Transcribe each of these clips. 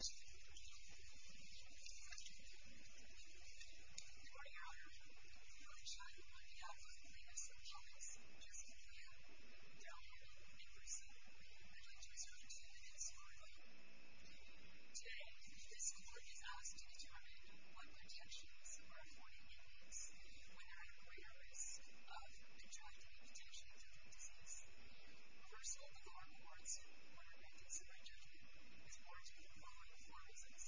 Good morning Your Honor, I'm really excited about the outcome of the plaintiff's appellate's case appeal. They're all here in person. I'd like to reserve two minutes for them. Today, this court is asked to determine what protections are afforded inmates when they're at greater risk of contracting a potentially deadly disease. First of all, the lower courts order a plaintiff's rejectment. It's ordered for the following four reasons.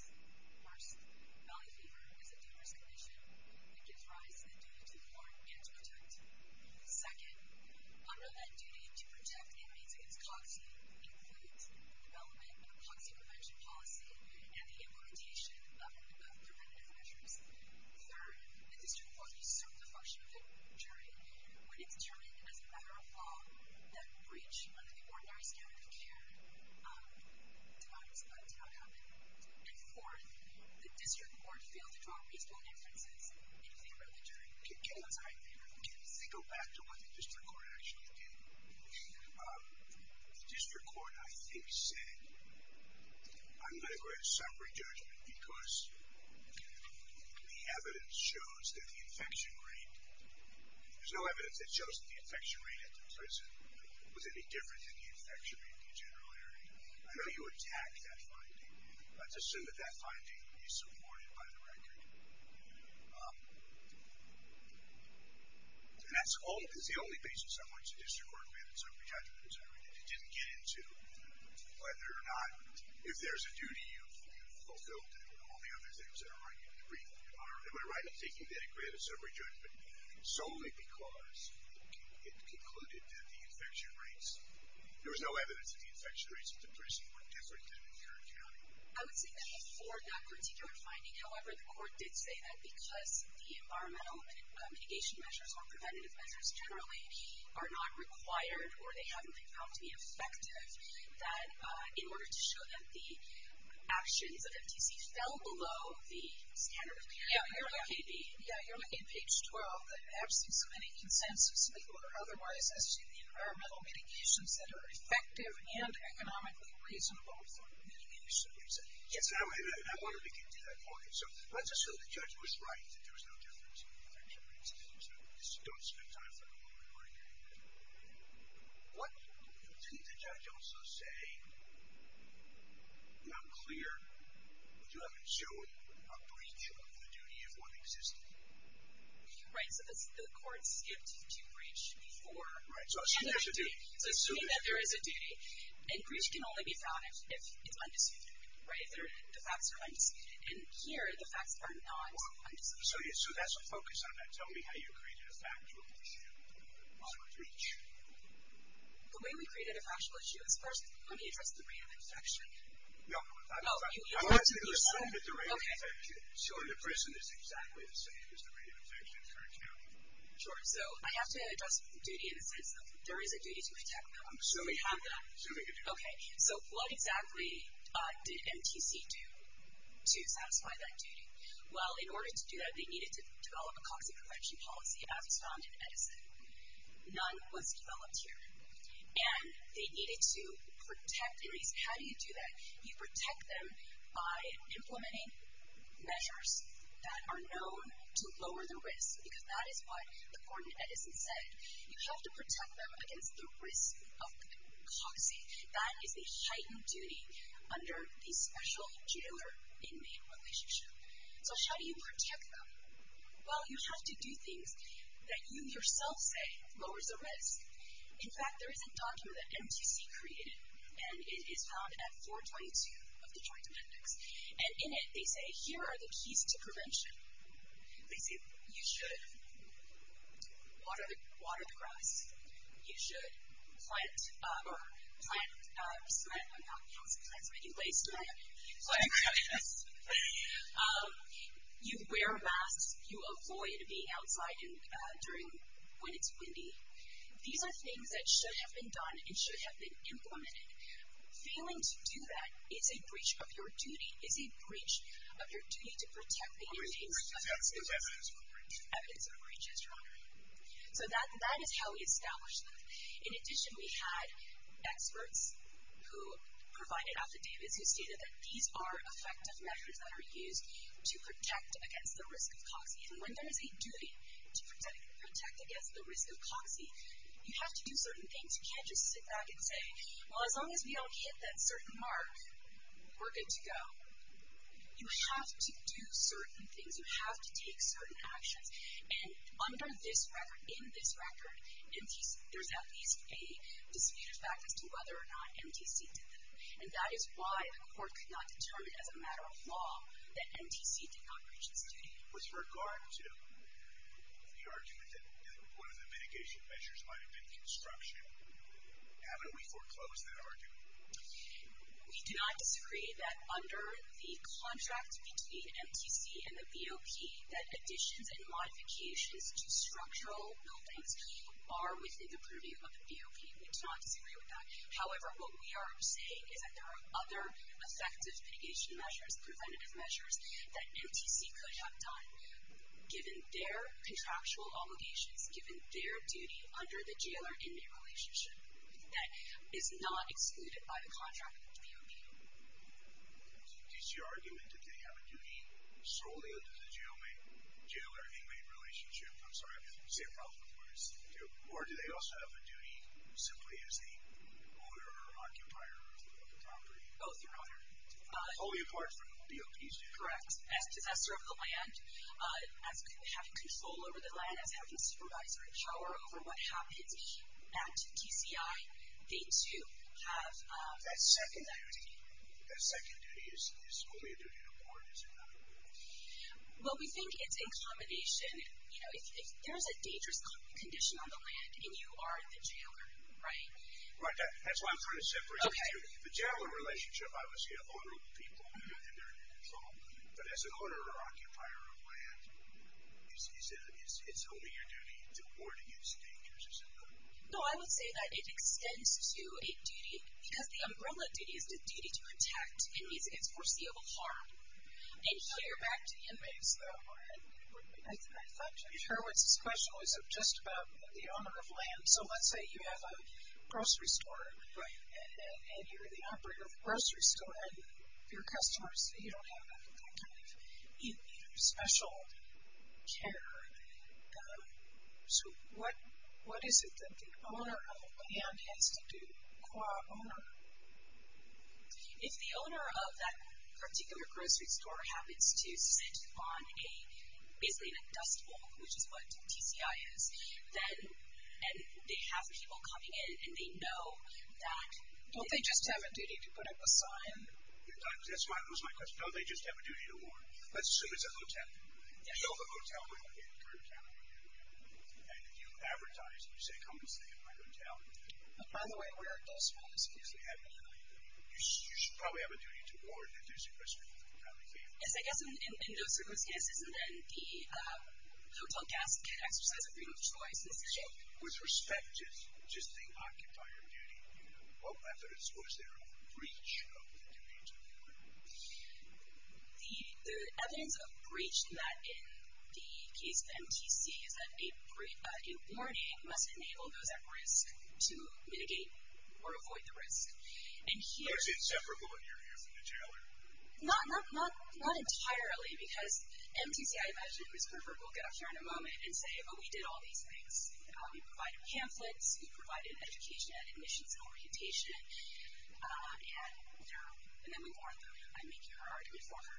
First, belly fever is a dangerous condition. It gives rise to the duty to warn and to protect. Second, unrelenting duty to protect inmates against COXI includes development of a COXI prevention policy and the implementation of preventative measures. Third, the district will assume the function of an attorney when it's determined as a matter of law that breach of the ordinary standard of care does not happen. And fourth, the district court failed to draw reasonable inferences in favor of the jury. I'm sorry, in favor of the jury. Can we go back to what the district court actually did? The district court, I think, said, I'm going to grant a summary judgment because the evidence shows that the infection rate, there's no evidence that shows that the infection rate at the prison was any different than the infection rate in the general area. I know you attacked that finding. Let's assume that that finding is supported by the record. And that's the only basis on which the district court granted a summary judgment. It didn't get into whether or not, if there's a duty you've fulfilled and all the other things that are right in the brief. Am I right in thinking that it granted a summary judgment solely because it concluded that the infection rates, there was no evidence that the infection rates at the prison were different than in Kerr County? I would say that for that particular finding, however, the court did say that because the environmental mitigation measures or preventative measures generally are not required or they haven't been found to be effective, that in order to show that the actions of MTC fell below the standard of care, you're looking at page 12, that absence of any consensus, legal or otherwise, as to the environmental mitigations that are effective and economically reasonable for mitigation. Yes, I wanted to get to that point. So let's assume the judge was right that there was no difference in infection rates. Don't spend time for the moment. What did the judge also say? I'm not clear. Would you have it show a breach of the duty if one existed? Right, so the court skipped to breach for... Right, so assuming there's a duty. Assuming that there is a duty. And breach can only be found if it's undisputed, right? The facts are undisputed. And here, the facts are not undisputed. So that's a focus on that. Tell me how you created a factual issue on the breach. The way we created a factual issue is, first, let me address the rate of infection. No, that's fine. I'm asking the same, but the rate of infection. Sure. The prison is exactly the same as the rate of infection, correct? Sure. So I have to address duty in the sense of there is a duty to protect them. Assuming you have that. Assuming a duty. Okay. So what exactly did MTC do to satisfy that duty? Well, in order to do that, they needed to develop a COGSI prevention policy, as found in Edison. None was developed here. And they needed to protect inmates. How do you do that? You protect them by implementing measures that are known to lower the risk. Because that is what the court in Edison said. You have to protect them against the risk of COGSI. That is a heightened duty under the special jailer-inmate relationship. So how do you protect them? Well, you have to do things that you yourself say lowers the risk. In fact, there is a document that MTC created, and it is found at 422 of the Joint Amendments. And in it, they say, here are the keys to prevention. They say, you should water the grass. You should plant cement. I don't know how else you plant cement. You lay cement. You wear masks. You avoid being outside when it's windy. These are things that should have been done and should have been implemented. Failing to do that is a breach of your duty, is a breach of your duty to protect the inmates. Evidence of a breach. Evidence of a breach, yes, Your Honor. So that is how we establish them. In addition, we had experts who provided affidavits who stated that these are effective measures that are used to protect against the risk of COGSI. And when there is a duty to protect against the risk of COGSI, you have to do certain things. You can't just sit back and say, well, as long as we don't hit that certain mark, we're good to go. You have to do certain things. You have to take certain actions. And under this record, in this record, there's at least a disputed fact as to whether or not MTC did that. And that is why the court could not determine as a matter of law that MTC did not breach its duty. With regard to the argument that one of the mitigation measures might have been construction, haven't we foreclosed that argument? We do not disagree that under the contract between MTC and the BOP, that additions and modifications to structural buildings are within the purview of the BOP. We do not disagree with that. However, what we are saying is that there are other effective mitigation measures, preventative measures, that MTC could have done, given their contractual obligations, given their duty under the jailer-inmate relationship. That is not excluded by the contract with the BOP. Does the MTC argument that they have a duty solely under the jailer-inmate relationship? I'm sorry, I didn't say it properly. Or do they also have a duty simply as the owner or occupier of the property? Both, Your Honor. Only apart from the BOP's duty. Correct. As possessor of the land, as having control over the land, as having supervisory power over what happens at TCI, they, too, have that duty. That second duty is only a duty to the board, is it not? Well, we think it's in combination. You know, if there's a dangerous condition on the land and you are the jailer, right? Right. That's why I'm trying to separate the two. Okay. The jailer relationship, I would say an owner of the people and their control, but as an owner or occupier of land, it's only your duty to ward against dangers, is it not? No, I would say that it extends to a duty, because the umbrella duty is the duty to protect inmates against foreseeable harm. And here, back to the inmates, though, I thought your question was just about the owner of land. So let's say you have a grocery store. Right. And you're the operator of the grocery store, and your customers, you don't have that kind of special care. So what is it that the owner of the land has to do to acquire an owner? If the owner of that particular grocery store happens to sit on a, basically, in a dust bowl, which is what TCI is, then they have people coming in, and they know that. Don't they just have a duty to put up a sign? That was my question. Don't they just have a duty to ward? Let's assume it's a hotel. Yes. So the hotel would be in Kerntown, and you advertise, and you say, come and stay at my hotel. By the way, where are dust bowls used? You should probably have a duty to ward if there's a risk of contamination. Yes, I guess in those sort of cases, isn't then the hotel guest can exercise a freedom of choice decision? With respect to the occupier duty, what evidence was there of breach of the duty to ward? The evidence of breach in the case of MTC is that a warning must enable those at risk to mitigate or avoid the risk. So it's inseparable in your ear from the jailer? Not entirely, because MTC, I imagine, Ms. Herbert will get up here in a moment and say, well, we did all these things. We provided pamphlets. We provided an education and admissions orientation. And then we warned her. I'm making her argument for her.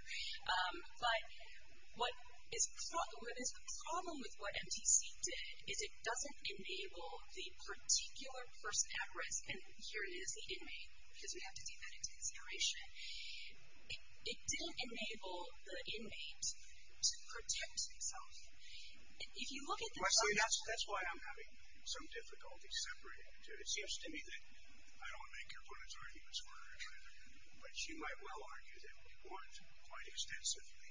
But where there's a problem with what MTC did is it doesn't enable the particular person at risk, and here it is, the inmate, because we have to take that into consideration. It didn't enable the inmate to protect himself. If you look at the... Leslie, that's why I'm having some difficulty separating the two. It seems to me that I don't want to make your point as very misguided, but you might well argue that we warned quite extensively.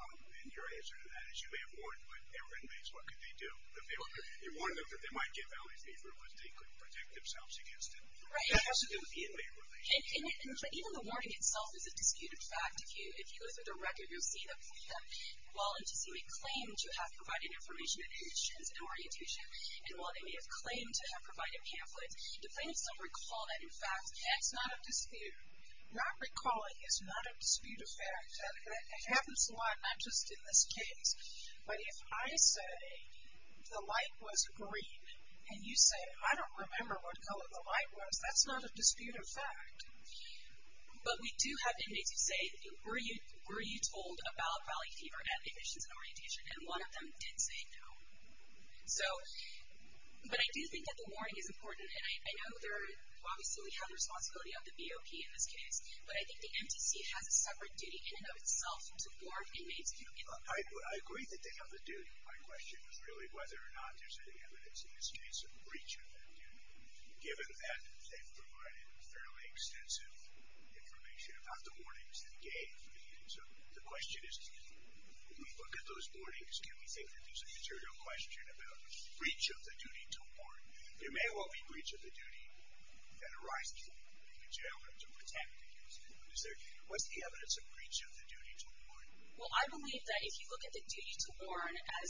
And your answer to that is you may have warned, but they were inmates. What could they do? You warned them that they might get Valley fever, but they couldn't protect themselves against it. That has to do with the inmate relationship. Even the warning itself is a disputed fact. If you look at the record, you'll see that while MTC may claim to have provided information, admissions, and orientation, and while they may have claimed to have provided pamphlets, do things still recall that in fact? That's not a dispute. Not recalling is not a disputed fact. It happens a lot, not just in this case. But if I say the light was green, and you say, I don't remember what color the light was, that's not a disputed fact. But we do have inmates who say, were you told about Valley fever at admissions and orientation? And one of them did say no. So, but I do think that the warning is important, and I know there obviously we have the responsibility of the BOP in this case, but I think the MTC has a separate duty in and of itself to warn inmates. I agree that they have a duty. My question is really whether or not there's any evidence in this case of breach of that duty. Given that they've provided fairly extensive information about the warnings they gave, so the question is, when we look at those warnings, can we think that there's a material question about breach of the duty to warn? There may well be breach of the duty that arises from being in jail or to protect. Is there, what's the evidence of breach of the duty to warn? Well, I believe that if you look at the duty to warn as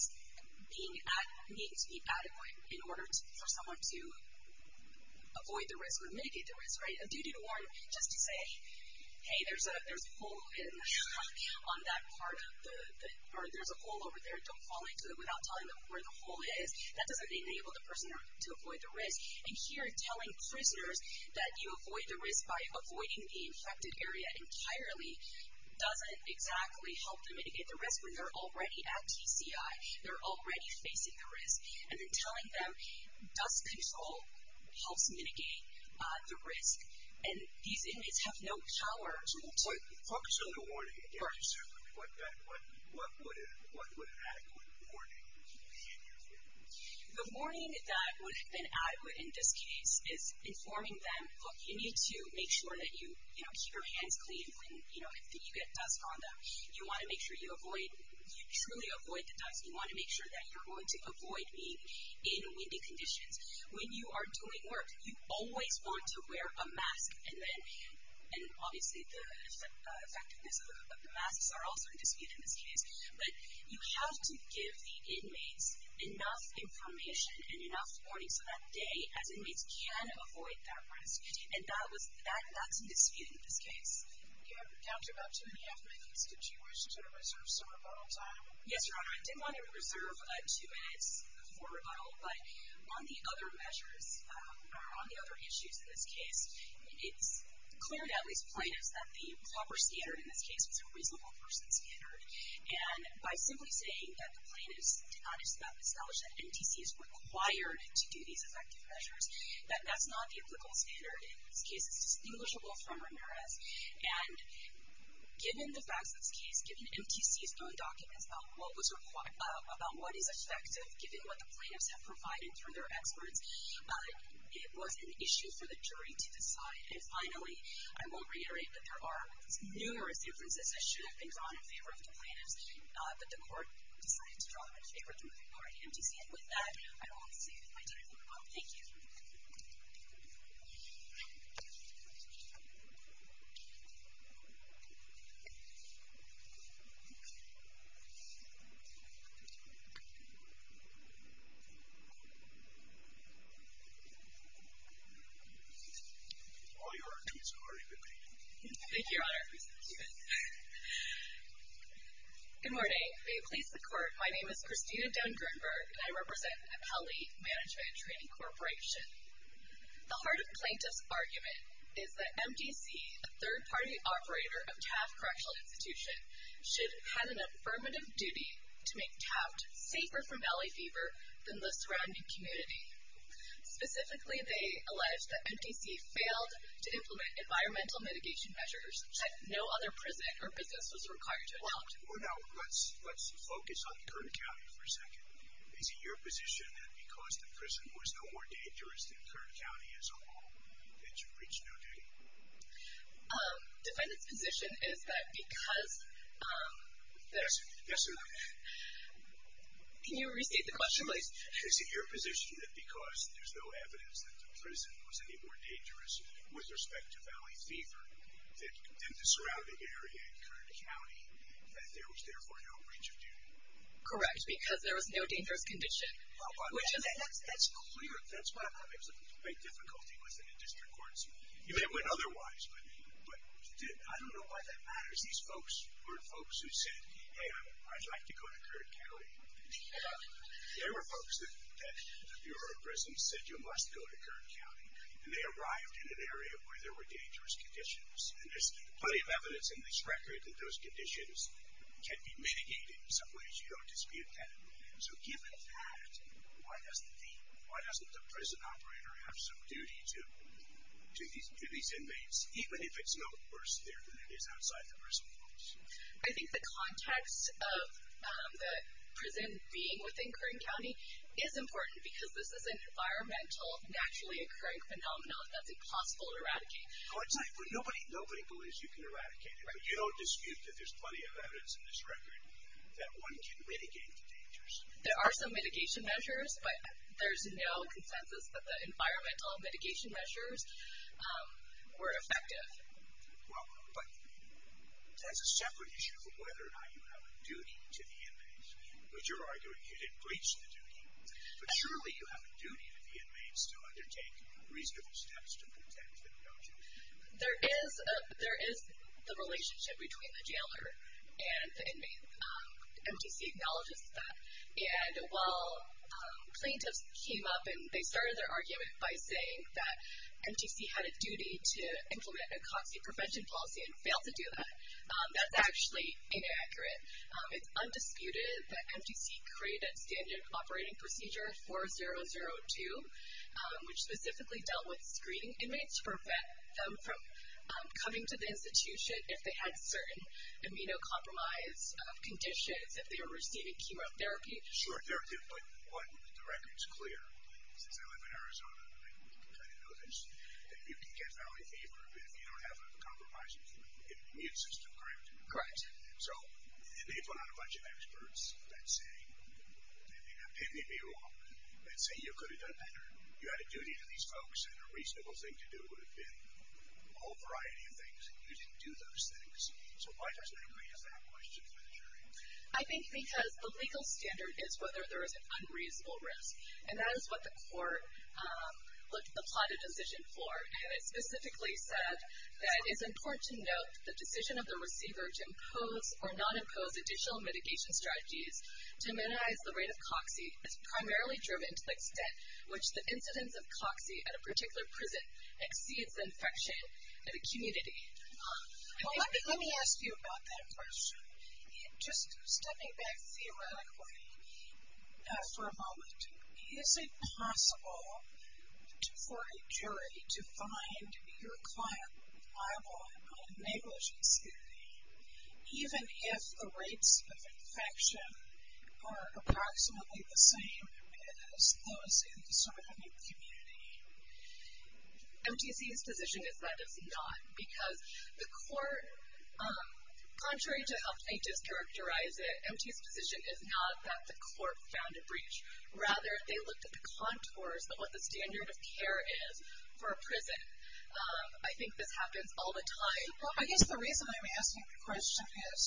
being, that needs to be adequate in order for someone to avoid the risk or mitigate the risk, right? A duty to warn just to say, hey, there's a hole on that part of the, or there's a hole over there, don't fall into it without telling them where the hole is. That doesn't enable the person to avoid the risk. And here telling prisoners that you avoid the risk by avoiding the infected area entirely doesn't exactly help to mitigate the risk when they're already at TCI, they're already facing the risk. And then telling them dust control helps mitigate the risk. And these inmates have no power to... Focus on the warning again. Certainly. What would an adequate warning be in your view? The warning that would have been adequate in this case is informing them, look, you need to make sure that you keep your hands clean when you get dust on them. You want to make sure you truly avoid the dust. You want to make sure that you're going to avoid being in windy conditions. When you are doing work, you always want to wear a mask. And obviously the effectiveness of the masks are also in dispute in this case. But you have to give the inmates enough information and enough warning so that day, as inmates, can avoid that risk. And that's in dispute in this case. You have down to about two and a half minutes. Did you wish to reserve some rebuttal time? Yes, Your Honor. I did want to reserve two minutes for rebuttal. But on the other measures, or on the other issues in this case, it's clear to at least plaintiffs that the proper standard in this case was a reasonable person standard. And by simply saying that the plaintiffs did not establish that NTC is required to do these effective measures, that that's not the applicable standard in this case. It's distinguishable from Ramirez. And given the facts of this case, given NTC's own documents about what is effective, given what the plaintiffs have provided through their experts, it was an issue for the jury to decide. And finally, I will reiterate that there are numerous inferences that should have been drawn in favor of the plaintiffs, but the court decided to draw them in favor of the majority NTC. And with that, I will conclude my time for the moment. Thank you. All Your Honor, two minutes have already been made. Thank you, Your Honor. Thank you. Good morning. May it please the Court, my name is Christina Dunn-Gernberg, and I represent Appellee Management and Training Corporation. The heart of plaintiff's argument is that NTC, a third-party operator of TAF Correctional Institution, should have had an affirmative duty to make TAF safer from belly fever than the surrounding community. Specifically, they allege that NTC failed to implement environmental mitigation measures that no other prison or business was required to adopt. Now, let's focus on Kern County for a second. Is it your position that because the prison was no more dangerous than Kern County as a whole, that you've reached no duty? Defendant's position is that because there's no evidence that the prison was any more dangerous with respect to belly fever than the surrounding area in Kern County, that there was therefore no breach of duty. Correct, because there was no dangerous condition. That's clear. That's why I'm having some great difficulty with it in district courts. You may have went otherwise, but I don't know why that matters. These folks were folks who said, hey, I'd like to go to Kern County. There were folks that the Bureau of Prisons said you must go to Kern County, and they arrived in an area where there were dangerous conditions. And there's plenty of evidence in this record that those conditions can be mitigated in some ways. You don't dispute that. So given that, why doesn't the prison operator have some duty to these inmates, even if it's no worse there than it is outside the prison walls? I think the context of the prison being within Kern County is important because this is an environmental, naturally occurring phenomenon that's impossible to eradicate. Well, nobody believes you can eradicate it, but you don't dispute that there's plenty of evidence in this record that one can mitigate the dangers. There are some mitigation measures, but there's no consensus that the environmental mitigation measures were effective. Well, but that's a separate issue of whether or not you have a duty to the inmates. Because you're arguing you didn't breach the duty. But surely you have a duty to the inmates to undertake reasonable steps to protect them, don't you? There is the relationship between the jailer and the inmates. MTC acknowledges that. And while plaintiffs came up and they started their argument by saying that MTC had a duty to implement a COXI prevention policy and failed to do that, that's actually inaccurate. It's undisputed that MTC created Standard Operating Procedure 4002, which specifically dealt with screening inmates to prevent them from coming to the institution if they had certain immunocompromised conditions, if they were receiving chemotherapy. Sure, but the record's clear. Since I live in Arizona, I kind of know this. You can get valley fever if you don't have a compromised immune system, correct? Correct. So they put out a bunch of experts that say you could have done better. You had a duty to these folks, and a reasonable thing to do would have been a whole variety of things. You didn't do those things. So why does that raise that question? I think because the legal standard is whether there is an unreasonable risk. And that is what the court applied a decision for. And it specifically said that it's important to note the decision of the receiver to impose or not impose additional mitigation strategies to minimize the rate of COXI is primarily driven to the extent which the incidence of COXI at a particular prison exceeds infection in a community. Let me ask you about that question. Just stepping back theoretically for a moment, is it possible for a jury to find your client liable on a negligence hearing even if the rates of infection are approximately the same as those in the surrounding community? MTC's position is that it's not, because the court, contrary to how I just characterized it, MTC's position is not that the court found a breach. Rather, they looked at the contours of what the standard of care is for a prison. I think this happens all the time. I guess the reason I'm asking the question is,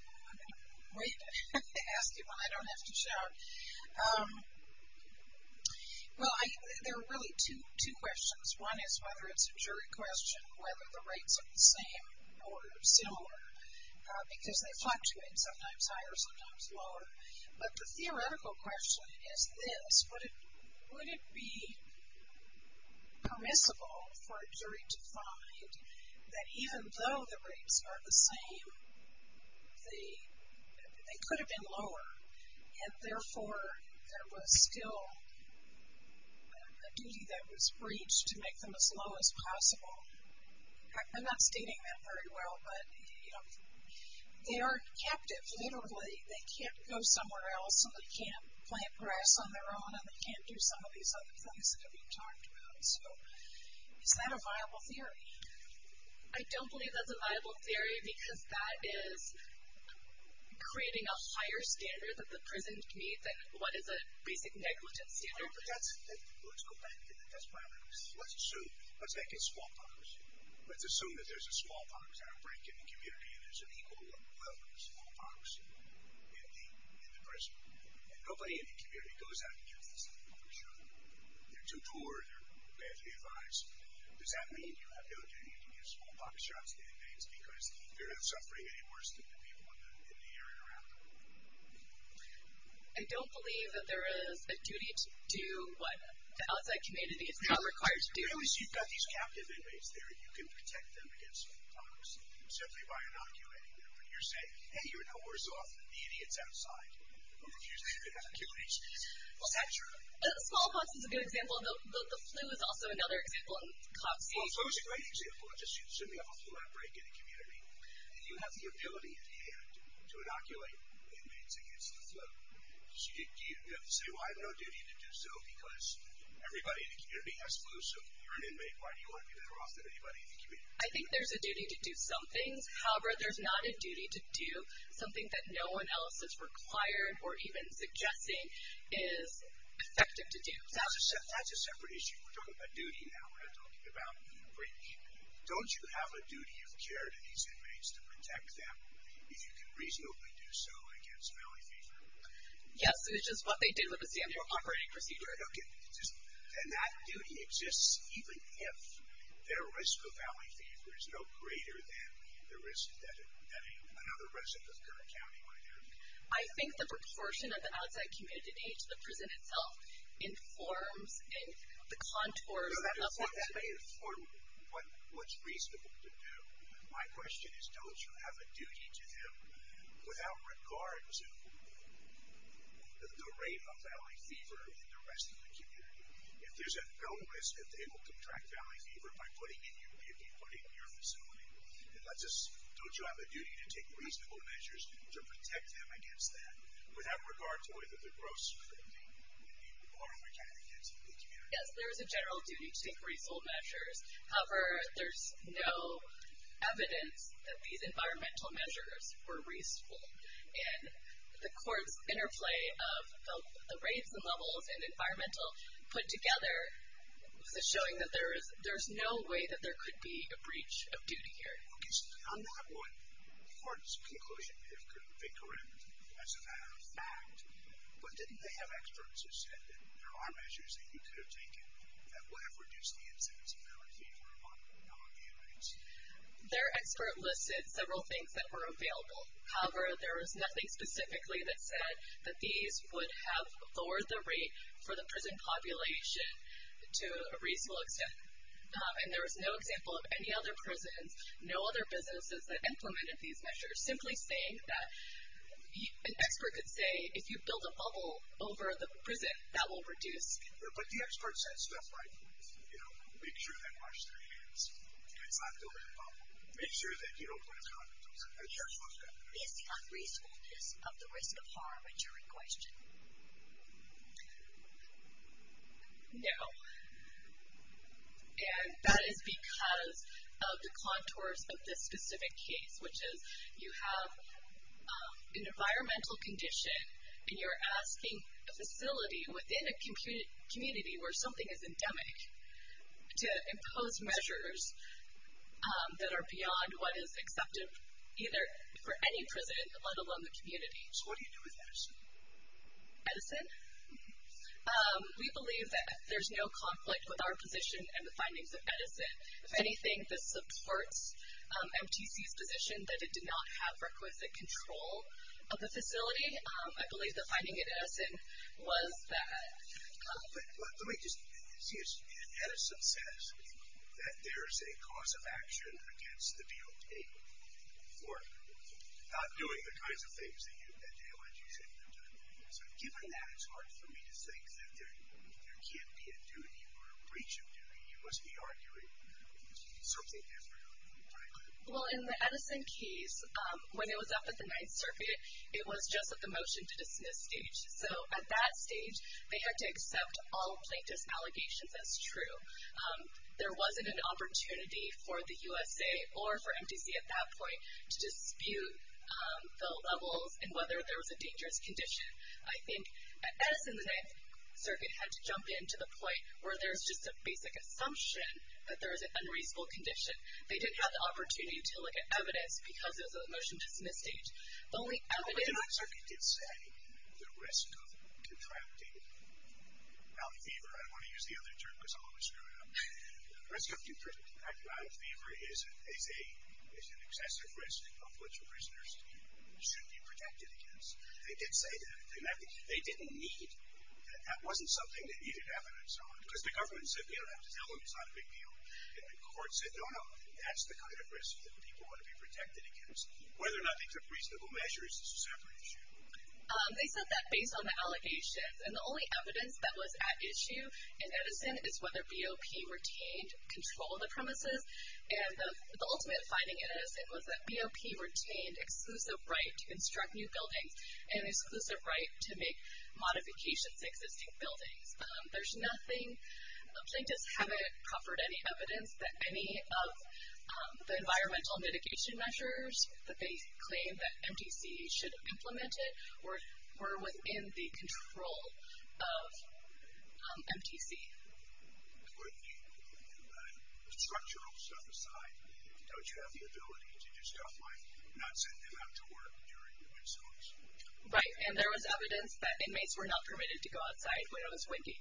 I'm going to wait to ask you one I don't have to show. Well, there are really two questions. One is whether it's a jury question, whether the rates are the same or similar, because they fluctuate sometimes higher, sometimes lower. But the theoretical question is this. Would it be permissible for a jury to find that even though the rates are the same, they could have been lower, and therefore there was still a duty that was breached to make them as low as possible? I'm not stating that very well, but they are captive, literally. They can't go somewhere else, and they can't plant grass on their own, and they can't do some of these other things that have been talked about. So is that a viable theory? I don't believe that's a viable theory, because that is creating a higher standard that the prison needs than what is a basic negligence standard. Let's go back. Let's make a smallpox. Let's assume that there's a smallpox outbreak in the community, and there's an equal level of smallpox in the prison, and nobody in the community goes out and gets this information. They're too poor. They're badly advised. Does that mean you have no duty to give smallpox shots to inmates because they're not suffering any worse than the people in the area around them? I don't believe that there is a duty to do what the outside community is not required to do. Really, so you've got these captive inmates there. You can protect them against smallpox simply by inoculating them. You're saying, hey, you're no worse off than the idiots outside, who refuse to even have a cure. Is that true? Smallpox is a good example, and the flu is also another example. Well, flu is a great example. Let's assume you have a flu outbreak in the community, and you have the ability at hand to inoculate inmates against the flu. Do you have to say, well, I have no duty to do so because everybody in the community has flu, so if you're an inmate, why do you want to be better off than anybody in the community? I think there's a duty to do some things. However, there's not a duty to do something that no one else is required or even suggesting is effective to do. That's a separate issue. We're talking about duty now. We're not talking about breach. Don't you have a duty of care to these inmates to protect them, if you can reasonably do so, against valley fever? Yes, which is what they did with a standard operating procedure. Okay. And that duty exists even if their risk of valley fever is no greater than the risk that another resident of Kern County might have? I think the proportion of the outside community to the prison itself informs the contours of the valley. No, that may inform what's reasonable to do. My question is, don't you have a duty to them, without regard to the rate of valley fever in the rest of the community? If there's a risk that they will contract valley fever by putting in your facility, don't you have a duty to take reasonable measures to protect them against that, without regard to whether the gross crime would be warranted against the community? Yes, there is a general duty to take reasonable measures. However, there's no evidence that these environmental measures were reasonable, and the court's interplay of the rates and levels and environmental put together is showing that there's no way that there could be a breach of duty here. Okay. So on that point, the court's conclusion could be correct as a matter of fact, but didn't they have experts who said that there are measures that you could have taken that would have reduced the incidence of valley fever among the inmates? Their expert listed several things that were available. However, there was nothing specifically that said that these would have lowered the rate for the prison population to a reasonable extent, and there was no example of any other prisons, no other businesses that implemented these measures, simply saying that an expert could say, if you build a bubble over the prison, that will reduce. But the expert said stuff like, you know, make sure they wash their hands, and it's not building a bubble. Make sure that you don't put a condom on them. Is the unreasonableness of the risk of harm a jury question? No. And that is because of the contours of this specific case, which is you have an environmental condition, and you're asking a facility within a community where something is endemic to impose measures that are beyond what is acceptable either for any prison, let alone the community. So what do you do with Edison? Edison? We believe that there's no conflict with our position and the findings of Edison. If anything, this supports MTC's position that it did not have requisite control of the facility. I believe the finding at Edison was that. Let me just see. Edison says that there's a cause of action against the DOJ for not doing the kinds of things that DOJs have been doing. So given that, it's hard for me to think that there can't be a duty or a breach of duty. You must be arguing something different. Well, in the Edison case, when it was up at the Ninth Circuit, it was just at the motion-to-dismiss stage. So at that stage, they had to accept all plaintiff's allegations as true. There wasn't an opportunity for the USA or for MTC at that point to dispute the levels and whether there was a dangerous condition. I think at Edison, the Ninth Circuit had to jump in to the point where there's just a basic assumption that there was an unreasonable condition. They didn't have the opportunity to look at evidence because it was a motion-to-dismiss stage. The Ninth Circuit did say the risk of contracting out-of-fever. I don't want to use the other term because I'll always screw it up. The risk of contracting out-of-fever is an excessive risk of which prisoners should be protected against. They did say that. They didn't need. That wasn't something that needed evidence on because the government said we don't have to tell them it's not a big deal. And the court said, no, no, that's the kind of risk that people want to be protected against. Whether or not they took reasonable measures is a separate issue. They said that based on the allegations. And the only evidence that was at issue in Edison is whether BOP retained control of the premises. And the ultimate finding in Edison was that BOP retained exclusive right to construct new buildings and exclusive right to make modifications to existing buildings. There's nothing. Plaintiffs haven't offered any evidence that any of the environmental mitigation measures that they claim that MTC should have implemented were within the control of MTC. With the structural stuff aside, don't you have the ability to do stuff like not send them out to work during the midsummer? Right. And there was evidence that inmates were not permitted to go outside when it was windy.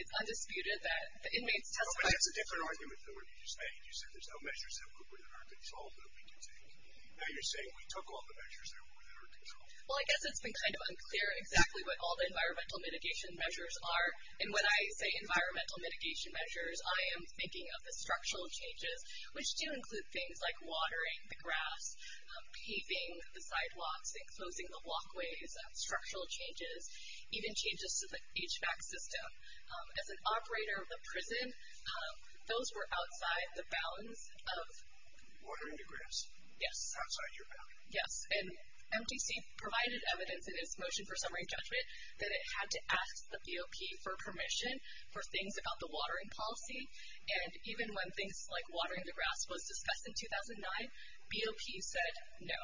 It's undisputed that the inmates testified. But that's a different argument than what you just made. You said there's no measures that were within our control of MTC. Now you're saying we took all the measures that were within our control. Well, I guess it's been kind of unclear exactly what all the environmental mitigation measures are. And when I say environmental mitigation measures, I am thinking of the structural changes, which do include things like watering the grass, paving the sidewalks, exposing the walkways, structural changes, even changes to the HVAC system. As an operator of the prison, those were outside the bounds of... Watering the grass. Yes. Outside your bounds. Yes. And MTC provided evidence in its motion for summary judgment that it had to ask the BOP for permission for things about the watering policy. And even when things like watering the grass was discussed in 2009, BOP said no.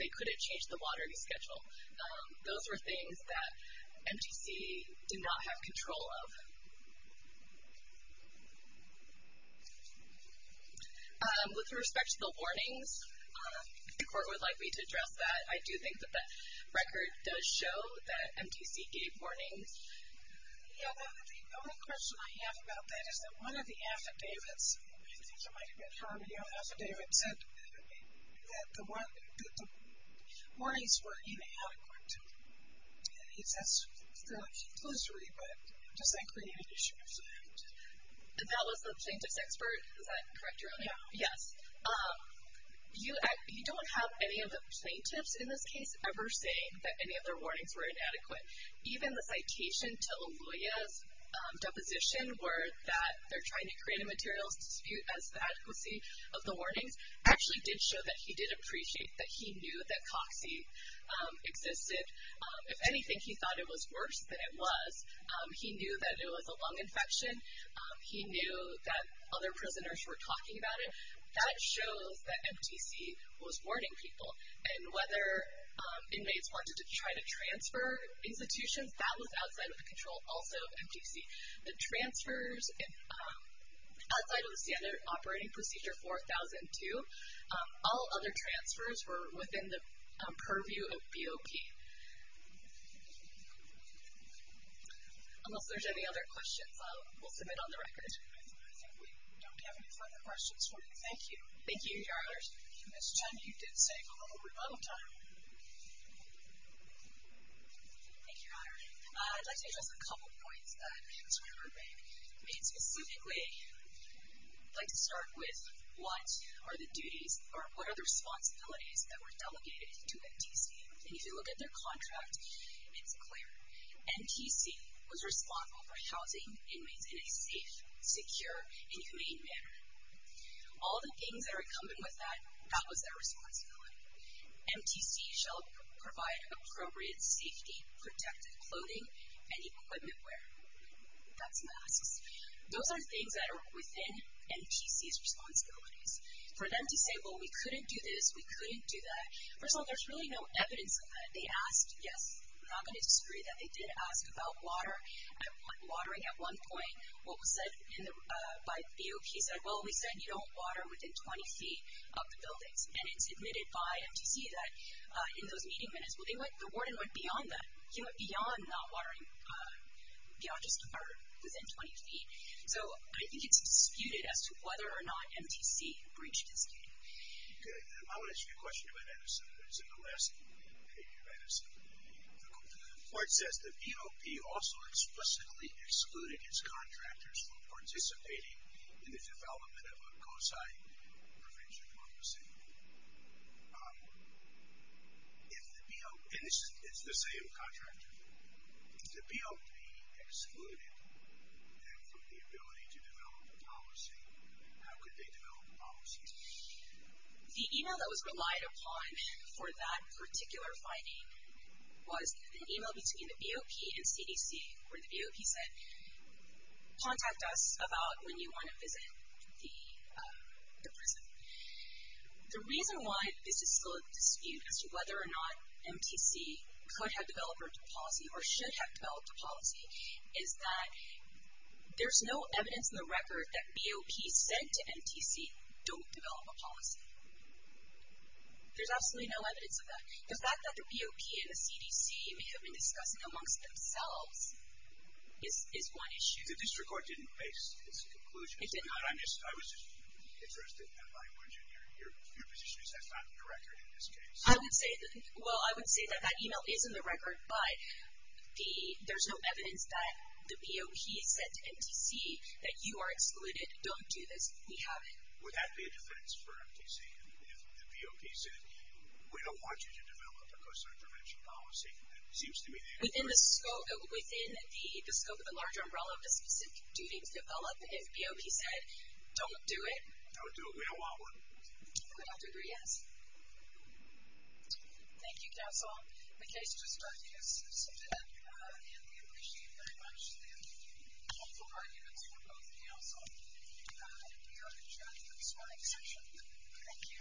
They couldn't change the watering schedule. Those were things that MTC did not have control of. With respect to the warnings, if the court would like me to address that, I do think that that record does show that MTC gave warnings. Yeah, the only question I have about that is that one of the affidavits, I think it might have been Harmony on Affidavit, said that the warnings were inadequate. And he says, they're like, illusory, but does that create an issue? That was the plaintiff's expert? Is that correct? Yeah. Yes. You don't have any of the plaintiffs in this case ever saying that any of their warnings were inadequate. Even the citation to LaGoya's deposition, where they're trying to create a materials dispute as to the adequacy of the warnings, actually did show that he did appreciate that he knew that COX-E existed. If anything, he thought it was worse than it was. He knew that it was a lung infection. He knew that other prisoners were talking about it. That shows that MTC was warning people. And whether inmates wanted to try to transfer institutions, that was outside of the control also of MTC. The transfers outside of the standard operating procedure 4002, all other transfers were within the purview of BOP. Unless there's any other questions, we'll submit on the record. I think we don't have any further questions for you. Thank you. Thank you, Your Honors. Ms. Chen, you did say hello. We're out of time. Thank you, Your Honor. I'd like to address a couple points that Ms. Weber made. Specifically, I'd like to start with, what are the responsibilities that were delegated to MTC? And if you look at their contract, it's clear. MTC was responsible for housing inmates in a safe, secure, and humane manner. All the things that are incumbent with that, that was their responsibility. MTC shall provide appropriate safety, protective clothing, and equipment wear. That's masks. Those are things that are within MTC's responsibilities. For them to say, well, we couldn't do this, we couldn't do that. First of all, there's really no evidence of that. They asked, yes, I'm not going to disagree with that. They did ask about water and watering at one point. What was said by BOP said, well, we said you don't water within 20 feet of the buildings. And it's admitted by MTC that in those meeting minutes, the warden went beyond that. He went beyond just water within 20 feet. So I think it's disputed as to whether or not MTC breached his duty. Okay. I want to ask you a question about Anderson. Is it the last? Okay, go ahead, Anderson. The report says the BOP also explicitly excluded its contractors from participating in the development of a COSI prevention policy. And this is the same contractor. If the BOP excluded them from the ability to develop a policy, how could they develop a policy? The email that was relied upon for that particular finding was an email between the BOP and CDC where the BOP said, contact us about when you want to visit the prison. The reason why this is still a dispute as to whether or not MTC could have developed a policy or should have developed a policy is that there's no evidence in the record that BOP said to MTC don't develop a policy. There's absolutely no evidence of that. The fact that the BOP and the CDC may have been discussing amongst themselves is one issue. The district court didn't base its conclusion. It did not. I was just interested in your position. That's not in the record in this case. Well, I would say that that email is in the record, but there's no evidence that the BOP said to MTC that you are excluded. Don't do this. We have it. Would that be a defense for MTC if the BOP said, we don't want you to develop a COSI prevention policy? Within the scope of the larger umbrella of the specific duty to develop, if BOP said, don't do it? Don't do it. We don't want one. I would have to agree, yes. Thank you, counsel. The case just started in September, and we appreciate very much the helpful arguments from both counsel. We are adjourned for this morning's session. Thank you.